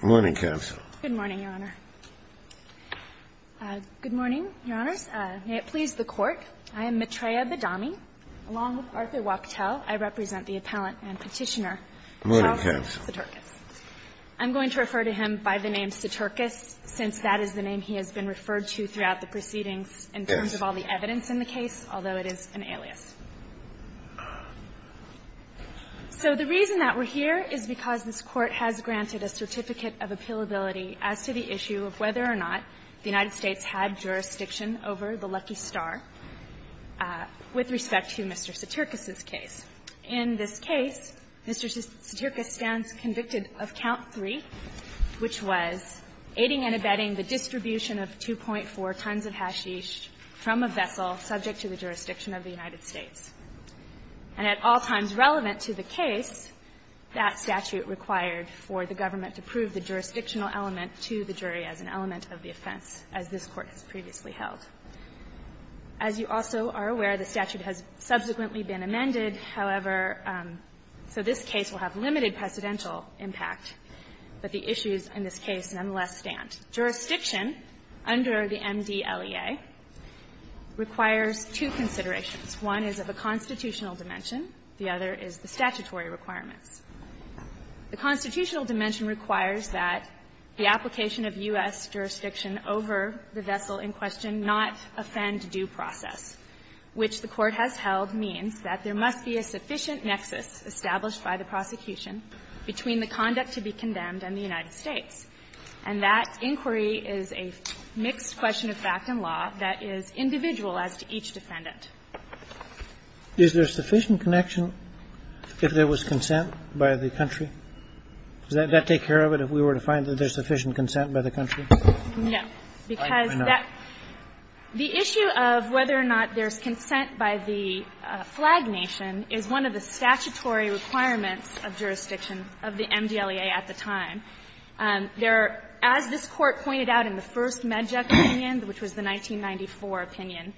Good morning, Your Honor. Good morning, Your Honors. May it please the Court, I am Maitreya Badami. Along with Arthur Wachtell, I represent the appellant and petitioner, Carl Soturkus. I'm going to refer to him by the name Soturkus, since that is the name he has been referred to throughout the proceedings in terms of all the evidence in the case, although it is an alias. So the reason that we're here is because this Court has granted a certificate of appealability as to the issue of whether or not the United States had jurisdiction over the Lucky Star with respect to Mr. Soturkus's case. In this case, Mr. Soturkus stands convicted of count three, which was aiding and abetting the distribution of 2.4 tons of hashish from a vessel subject to the jurisdiction of the United States. And at all times relevant to the case, that statute required for the government to prove the jurisdictional element to the jury as an element of the offense, as this Court has previously held. As you also are aware, the statute has subsequently been amended. However, so this case will have limited precedential impact, but the issues in this case nonetheless stand. Jurisdiction under the MDLEA requires two considerations. One is of a constitutional dimension. The other is the statutory requirements. The constitutional dimension requires that the application of U.S. jurisdiction over the vessel in question not offend due process, which the Court has held means that there must be a sufficient nexus established by the prosecution between the conduct to be condemned and the United States. And that inquiry is a mixed question of fact and law that is individual as to each defendant. Is there sufficient connection if there was consent by the country? Does that take care of it, if we were to find that there's sufficient consent by the country? No. Because that the issue of whether or not there's consent by the flag nation is one of the statutory requirements of jurisdiction of the MDLEA at the time. There are, as this Court pointed out in the first Medjug opinion, which was the 1994 opinion,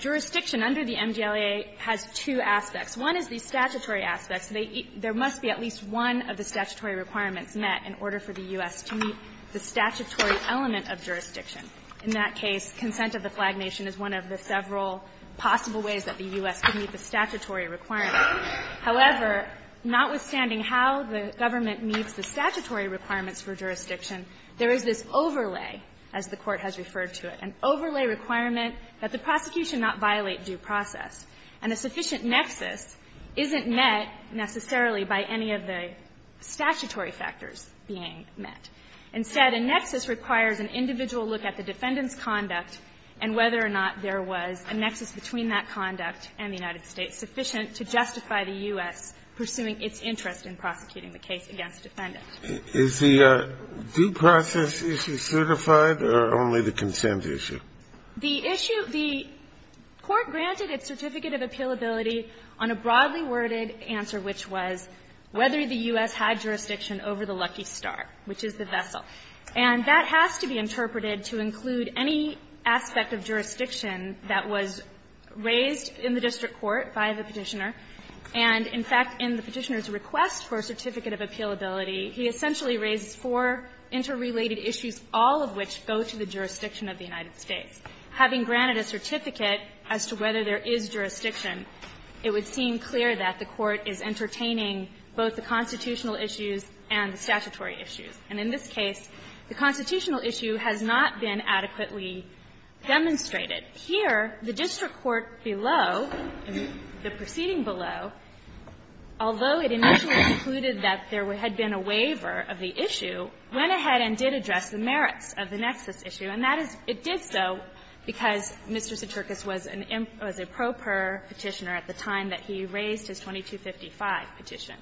jurisdiction under the MDLEA has two aspects. One is the statutory aspects. There must be at least one of the statutory requirements met in order for the U.S. to meet the statutory element of jurisdiction. In that case, consent of the flag nation is one of the several possible ways that the U.S. could meet the statutory requirement. However, notwithstanding how the government meets the statutory requirements for jurisdiction, there is this overlay, as the Court has referred to it, an overlay requirement that the prosecution not violate due process. And a sufficient nexus isn't met, necessarily, by any of the statutory factors being met. Instead, a nexus requires an individual look at the defendant's conduct and whether or not there was a nexus between that conduct and the United States sufficient to justify the U.S. pursuing its interest in prosecuting the case against the defendant. Is the due process issue certified or only the consent issue? The issue of the court granted its certificate of appealability on a broadly worded answer, which was whether the U.S. had jurisdiction over the lucky star, which is the vessel. And that has to be interpreted to include any aspect of jurisdiction that was raised in the district court by the Petitioner. And, in fact, in the Petitioner's request for a certificate of appealability, he essentially raises four interrelated issues, all of which go to the jurisdiction of the United States. Having granted a certificate as to whether there is jurisdiction, it would seem clear that the court is entertaining both the constitutional issues and the statutory issues. And in this case, the constitutional issue has not been adequately demonstrated. Here, the district court below, the proceeding below, although it initially concluded that there had been a waiver of the issue, went ahead and did address the merits of the nexus issue. And that is – it did so because Mr. Suterkis was an improper Petitioner at the time that he raised his 2255 petition.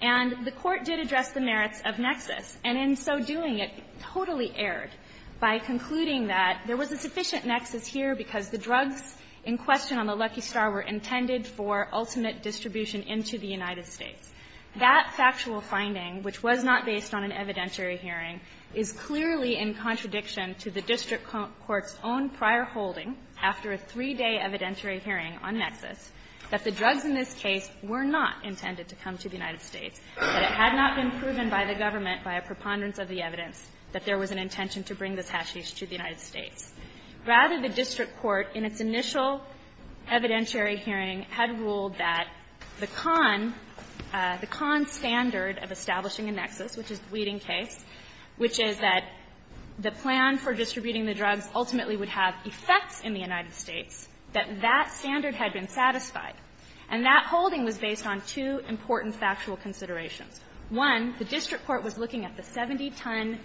And the court did address the merits of nexus, and in so doing, it totally erred by concluding that there was a sufficient nexus here because the drugs in question on the lucky star were intended for ultimate distribution into the United States. That factual finding, which was not based on an evidentiary hearing, is clearly in contradiction to the district court's own prior holding after a three-day evidentiary hearing on nexus, that the drugs in this case were not intended to come to the United States, that it had not been proven by the government by a preponderance of the evidence that there was an intention to bring this hashish to the United States. Rather, the district court, in its initial evidentiary hearing, had ruled that the con – the con standard of establishing a nexus, which is the Weeding case, which is that the plan for distributing the drugs ultimately would have effects in the United States, that that standard had been satisfied. And that holding was based on two important factual considerations. One, the district court was looking at the 70-ton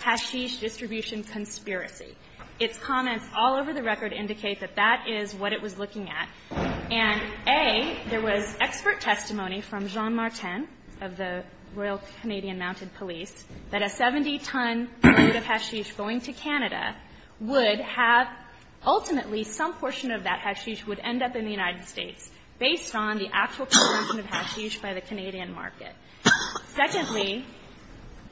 hashish distribution conspiracy. Its comments all over the record indicate that that is what it was looking at. And, A, there was expert testimony from Jean Martin of the Royal Canadian Mounted Police that a 70-ton load of hashish going to Canada would have ultimately some portion of that hashish would end up in the United States, based on the actual conversion of hashish by the Canadian market. Secondly,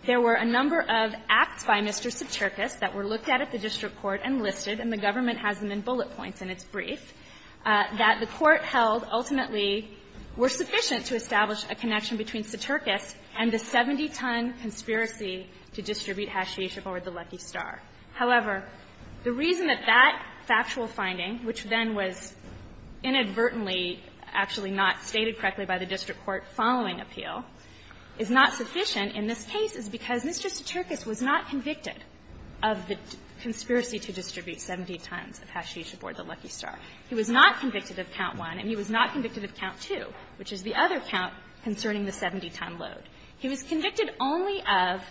there were a number of acts by Mr. Soterkis that were looked at at the district court and listed, and the government has them in bullet points in its brief, that the court held ultimately were sufficient to establish a connection between Soterkis and the 70-ton conspiracy to distribute hashish aboard the Lucky Star. However, the reason that that factual finding, which then was inadvertently actually not stated correctly by the district court following appeal, is not sufficient in this case is because Mr. Soterkis was not convicted of the conspiracy to distribute 70 tons of hashish aboard the Lucky Star. He was not convicted of count one, and he was not convicted of count two, which is the other count concerning the 70-ton load. He was convicted only of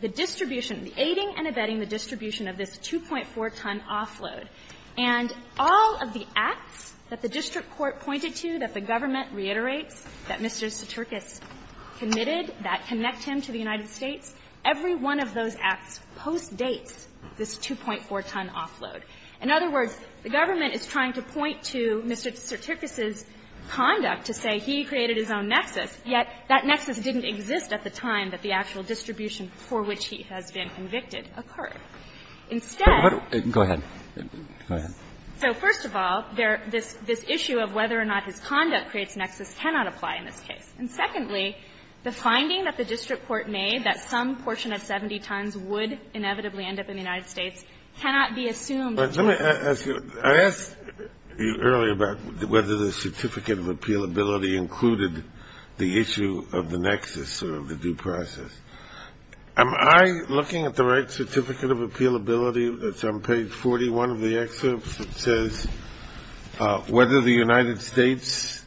the distribution, the aiding and abetting the distribution of this 2.4-ton offload. And all of the acts that the district court pointed to, that the government reiterates, that Mr. Soterkis committed, that connect him to the United States, every one of those acts postdates this 2.4-ton offload. In other words, the government is trying to point to Mr. Soterkis's conduct to say he created his own nexus, yet that nexus didn't exist at the time that the actual distribution for which he has been convicted occurred. Instead, so first of all, this issue of whether or not his conduct creates nexus cannot apply in this case. And secondly, the finding that the district court made that some portion of 70 tons would inevitably end up in the United States cannot be assumed to apply. Earlier, about whether the certificate of appealability included the issue of the nexus or of the due process. Am I looking at the right certificate of appealability that's on page 41 of the excerpt that says whether the United States,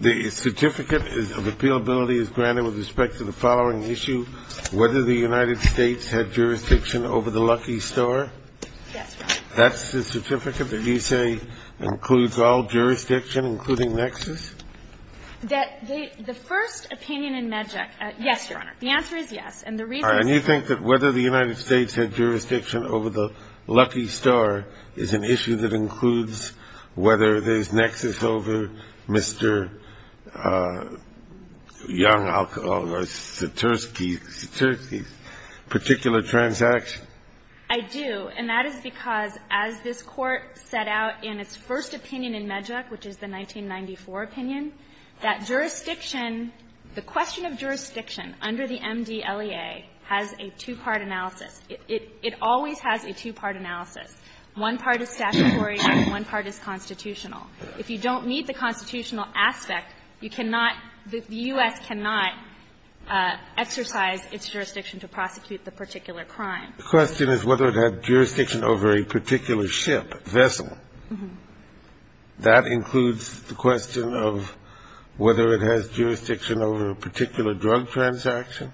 the certificate of appealability is granted with respect to the following issue, whether the United States had jurisdiction over the Lucky Star? Yes, Your Honor. That's the certificate that you say includes all jurisdiction, including nexus? That the first opinion in MedJEC, yes, Your Honor. The answer is yes. And the reason is that- All right. And you think that whether the United States had jurisdiction over the Lucky Star is an issue that includes whether there's nexus over Mr. Young, or Soterkis's particular transaction? I do. And that is because as this Court set out in its first opinion in MedJEC, which is the 1994 opinion, that jurisdiction, the question of jurisdiction under the MD-LEA has a two-part analysis. It always has a two-part analysis. One part is statutory and one part is constitutional. If you don't meet the constitutional aspect, you cannot, the U.S. cannot exercise its jurisdiction to prosecute the particular crime. The question is whether it had jurisdiction over a particular ship, vessel. That includes the question of whether it has jurisdiction over a particular drug transaction?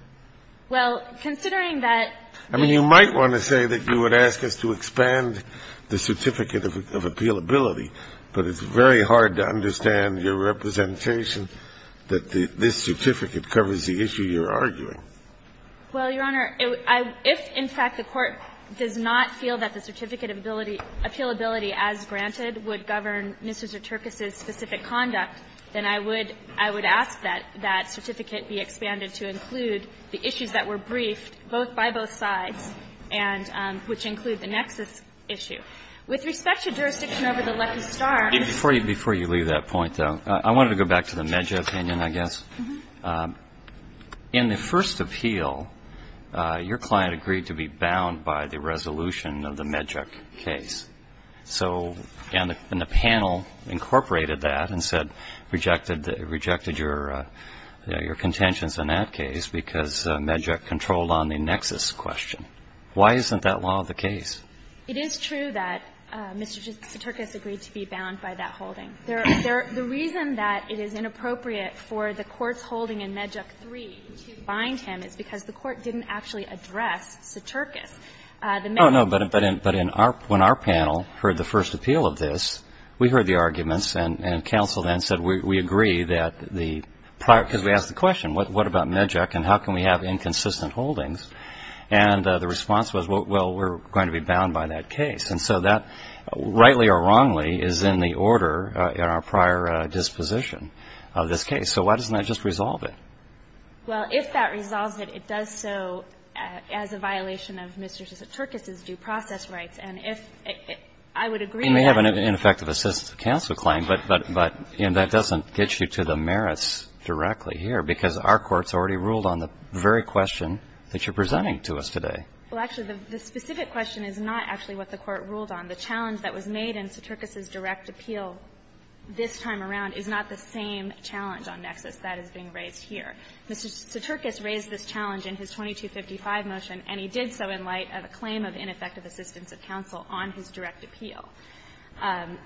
Well, considering that- I mean, you might want to say that you would ask us to expand the certificate of appealability, but it's very hard to understand your representation that this certificate covers the issue you're arguing. Well, Your Honor, if in fact the Court does not feel that the certificate of appealability as granted would govern Mr. Soterkis's specific conduct, then I would ask that that certificate be expanded to include the issues that were briefed both by both sides and which include the nexus issue. With respect to jurisdiction over the Lucky Star- Before you leave that point, though, I wanted to go back to the MedJEC opinion, I guess. In the first appeal, your client agreed to be bound by the resolution of the MedJEC case. So the panel incorporated that and said, rejected your contentions in that case because MedJEC controlled on the nexus question. Why isn't that law the case? It is true that Mr. Soterkis agreed to be bound by that holding. The reason that it is inappropriate for the Court's holding in MedJEC 3 to bind him is because the Court didn't actually address Soterkis. Oh, no, but when our panel heard the first appeal of this, we heard the arguments and counsel then said, we agree that the prior, because we asked the question, what about MedJEC and how can we have inconsistent holdings? And the response was, well, we're going to be bound by that case. And so that, rightly or wrongly, is in the order in our prior disposition of this case. So why doesn't that just resolve it? Well, if that resolves it, it does so as a violation of Mr. Soterkis' due process rights. And if, I would agree that. You may have an ineffective assist to counsel claim, but that doesn't get you to the merits directly here because our Court's already ruled on the very question that you're presenting to us today. Well, actually, the specific question is not actually what the Court ruled on. The challenge that was made in Soterkis' direct appeal this time around is not the same challenge on nexus that is being raised here. Mr. Soterkis raised this challenge in his 2255 motion, and he did so in light of a claim of ineffective assistance of counsel on his direct appeal.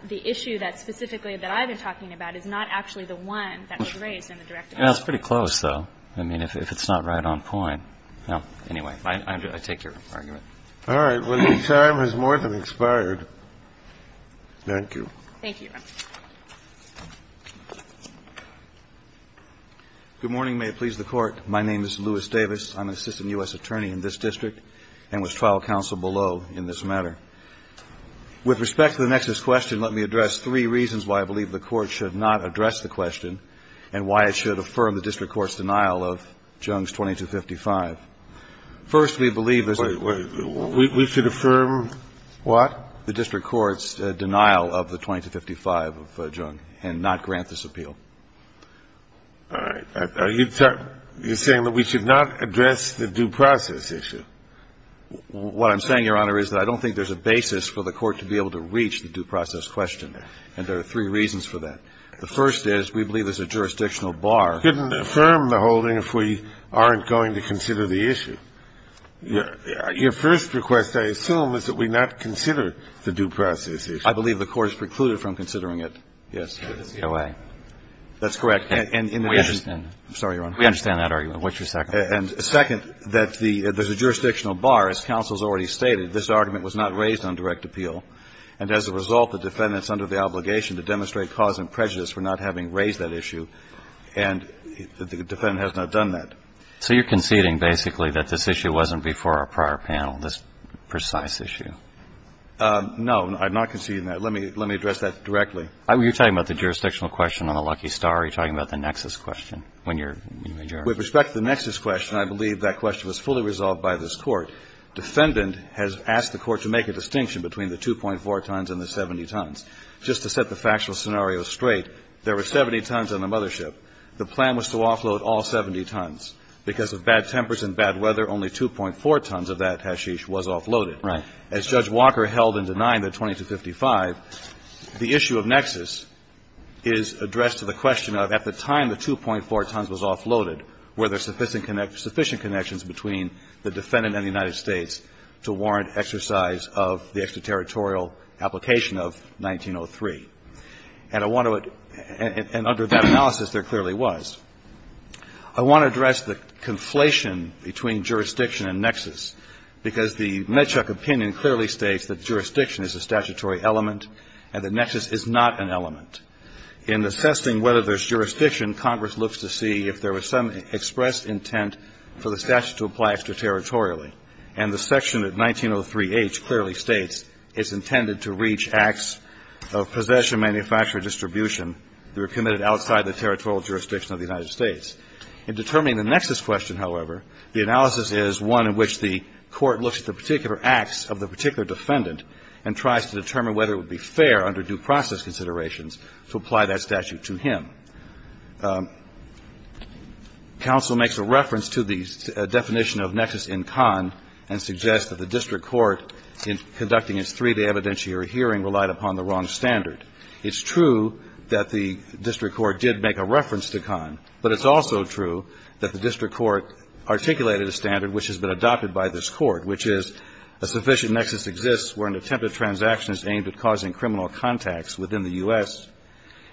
The issue that specifically that I've been talking about is not actually the one that was raised in the direct appeal. Well, it's pretty close, though, I mean, if it's not right on point. Well, anyway, I take your argument. All right. Well, your time has more than expired. Thank you. Thank you. Good morning. May it please the Court. My name is Louis Davis. I'm an assistant U.S. attorney in this district and was trial counsel below in this matter. With respect to the nexus question, let me address three reasons why I believe the Court should not address the question and why it should affirm the district court's denial of Jung's 2255. First, we believe there's a We should affirm what? The district court's denial of the 2255 of Jung and not grant this appeal. All right. Are you saying that we should not address the due process issue? What I'm saying, Your Honor, is that I don't think there's a basis for the Court to be able to reach the due process question, and there are three reasons for that. The first is we believe there's a jurisdictional bar. I couldn't affirm the holding if we aren't going to consider the issue. Your first request, I assume, is that we not consider the due process issue. I believe the Court has precluded from considering it, yes. That's correct. And in the case We understand. I'm sorry, Your Honor. We understand that argument. What's your second? And second, that there's a jurisdictional bar. As counsel has already stated, this argument was not raised on direct appeal. And as a result, the defendants under the obligation to demonstrate cause and prejudice for not having raised that issue. And the defendant has not done that. So you're conceding basically that this issue wasn't before our prior panel, this precise issue? No. I'm not conceding that. Let me address that directly. Are you talking about the jurisdictional question on the lucky star, or are you talking about the nexus question when you're in the majority? With respect to the nexus question, I believe that question was fully resolved by this Court. Defendant has asked the Court to make a distinction between the 2.4 tons and the 70 tons. Just to set the factual scenario straight, there were 70 tons on the mothership. The plan was to offload all 70 tons. Because of bad tempers and bad weather, only 2.4 tons of that hashish was offloaded. Right. As Judge Walker held in denying the 2255, the issue of nexus is addressed to the question of at the time the 2.4 tons was offloaded, were there sufficient connections between the defendant and the United States to warrant exercise of the extraterritorial application of 1903. And I want to address the conflation between jurisdiction and nexus, because the Medchuck opinion clearly states that jurisdiction is a statutory element and the nexus is not an element. In assessing whether there's jurisdiction, Congress looks to see if there was some expressed intent for the statute to apply extraterritorially. And the section of 1903H clearly states it's intended to reach acts of possession, manufacture, or distribution that are committed outside the territorial jurisdiction of the United States. In determining the nexus question, however, the analysis is one in which the Court looks at the particular acts of the particular defendant and tries to determine whether it would be fair under due process considerations to apply that statute to him. Counsel makes a reference to the definition of nexus in Kahn and suggests that the district court, in conducting its three-day evidentiary hearing, relied upon the wrong standard. It's true that the district court did make a reference to Kahn, but it's also true that the district court articulated a standard which has been adopted by this Court, which is a sufficient nexus exists where an attempt at transaction is aimed at causing criminal contacts within the U.S.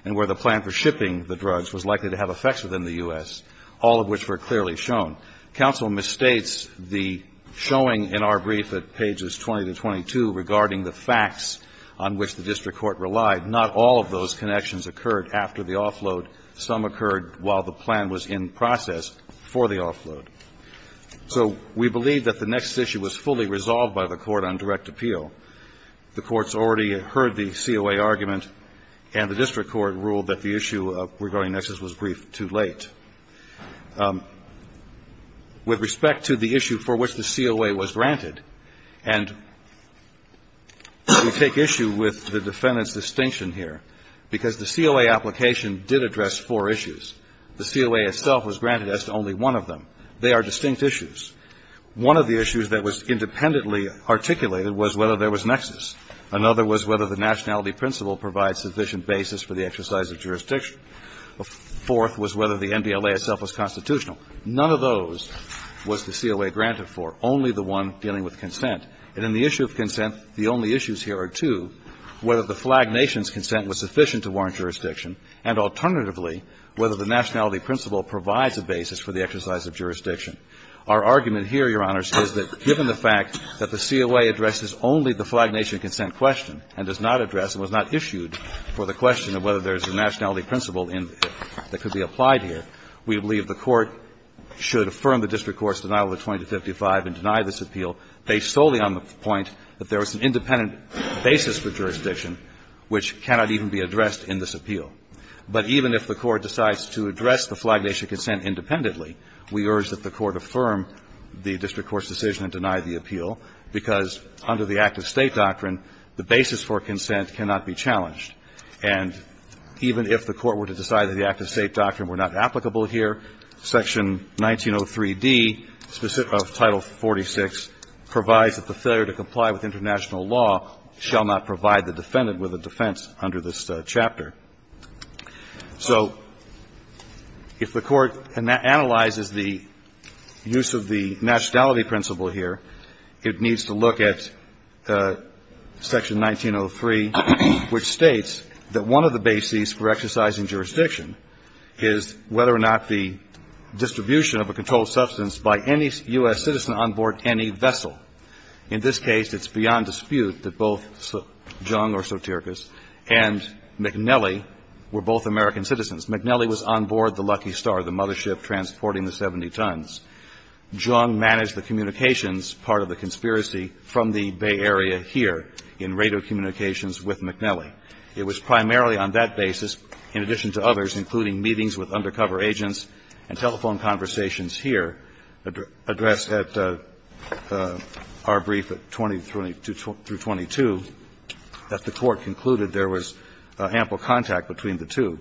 and where the plan for shipping the drugs was likely to have effects within the U.S., all of which were clearly shown. Counsel misstates the showing in our brief at pages 20 to 22 regarding the facts on which the district court relied. Not all of those connections occurred after the offload. Some occurred while the plan was in process for the offload. So we believe that the nexus issue was fully resolved by the Court on direct appeal. The Court's already heard the COA argument, and the district court ruled that the issue regarding nexus was briefed too late. With respect to the issue for which the COA was granted, and we take issue with the defendant's distinction here, because the COA application did address four issues. The COA itself was granted as to only one of them. They are distinct issues. One of the issues that was independently articulated was whether there was nexus. Another was whether the nationality principle provides sufficient basis for the exercise of jurisdiction. The fourth was whether the NBLA itself was constitutional. None of those was the COA granted for, only the one dealing with consent. And in the issue of consent, the only issues here are two, whether the flag nation's consent was sufficient to warrant jurisdiction, and alternatively, whether the nationality principle provides a basis for the exercise of jurisdiction. Our argument here, Your Honors, is that given the fact that the COA addresses only the flag nation consent question, and does not address, and was not issued for the question of whether there is a nationality principle in it that could be applied here, we believe the Court should affirm the district court's denial of the 20 to 55 and deny this appeal based solely on the point that there was an independent basis for jurisdiction which cannot even be addressed in this appeal. But even if the Court decides to address the flag nation consent independently, we urge that the Court affirm the district court's decision and deny the appeal, because under the active State doctrine, the basis for consent cannot be challenged. And even if the Court were to decide that the active State doctrine were not applicable here, Section 1903d of Title 46 provides that the failure to comply with international law shall not provide the defendant with a defense under this chapter. So if the Court analyzes the use of the nationality principle here, it needs to look at Section 1903, which states that one of the bases for exercising jurisdiction is whether or not the distribution of a controlled substance by any U.S. citizen on board any vessel. In this case, it's beyond dispute that both Jung or Sotiris and McNelly were both American citizens. McNelly was on board the Lucky Star, the mothership transporting the 70 tons. Jung managed the communications part of the conspiracy from the Bay Area here in radio communications with McNelly. It was primarily on that basis, in addition to others, including meetings with undercover agents and telephone conversations here addressed at the U.S. Our brief at 20-22, that the Court concluded there was ample contact between the two.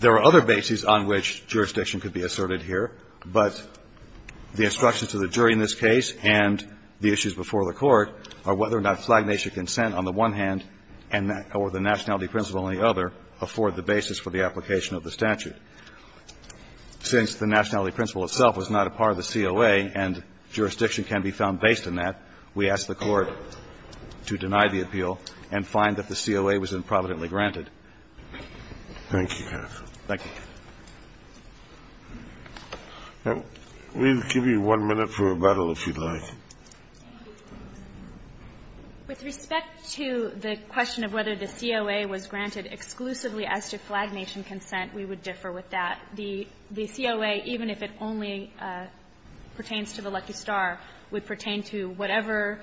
There are other bases on which jurisdiction could be asserted here, but the instructions to the jury in this case and the issues before the Court are whether or not flagnation consent on the one hand or the nationality principle on the other afford the basis for the application of the statute. Since the nationality principle itself was not a part of the COA and jurisdiction can be found based on that, we ask the Court to deny the appeal and find that the COA was improvidently granted. Thank you, Your Honor. Thank you. We'll give you one minute for rebuttal, if you'd like. With respect to the question of whether the COA was granted exclusively as to flagnation consent, we would differ with that. The COA, even if it only pertains to the lucky star, would pertain to whatever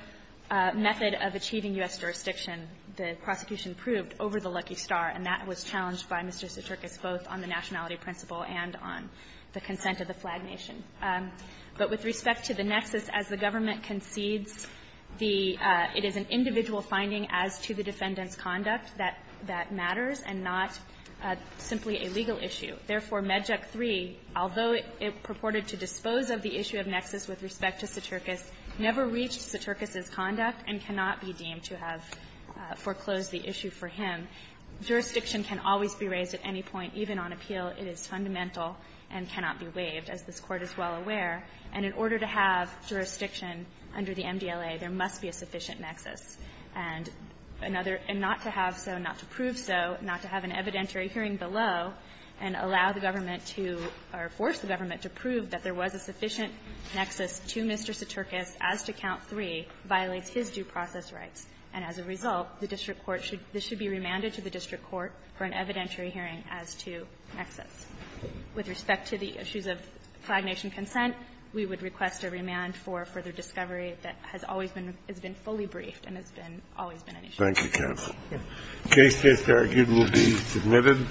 method of achieving U.S. jurisdiction the prosecution proved over the lucky star, and that was challenged by Mr. Suterkis both on the nationality principle and on the consent of the flag nation. But with respect to the nexus, as the government concedes the --"it is an individual finding as to the defendant's conduct that matters and not simply a legal issue. Therefore, MEDJUK III, although it purported to dispose of the issue of nexus with respect to Suterkis, never reached Suterkis's conduct and cannot be deemed to have foreclosed the issue for him. Jurisdiction can always be raised at any point, even on appeal. It is fundamental and cannot be waived, as this Court is well aware. And in order to have jurisdiction under the MDLA, there must be a sufficient nexus. And another --"and not to have so, not to prove so, not to have an evidentiary hearing below, and allow the government to or force the government to prove that there was a sufficient nexus to Mr. Suterkis as to Count III, violates his due process rights. And as a result, the district court should be remanded to the district court for an evidentiary hearing as to nexus. With respect to the issues of flag nation consent, we would request a remand for further discovery that has always been, has been fully briefed and has been, always been an issue. Thank you, counsel. The case is argued and will be submitted.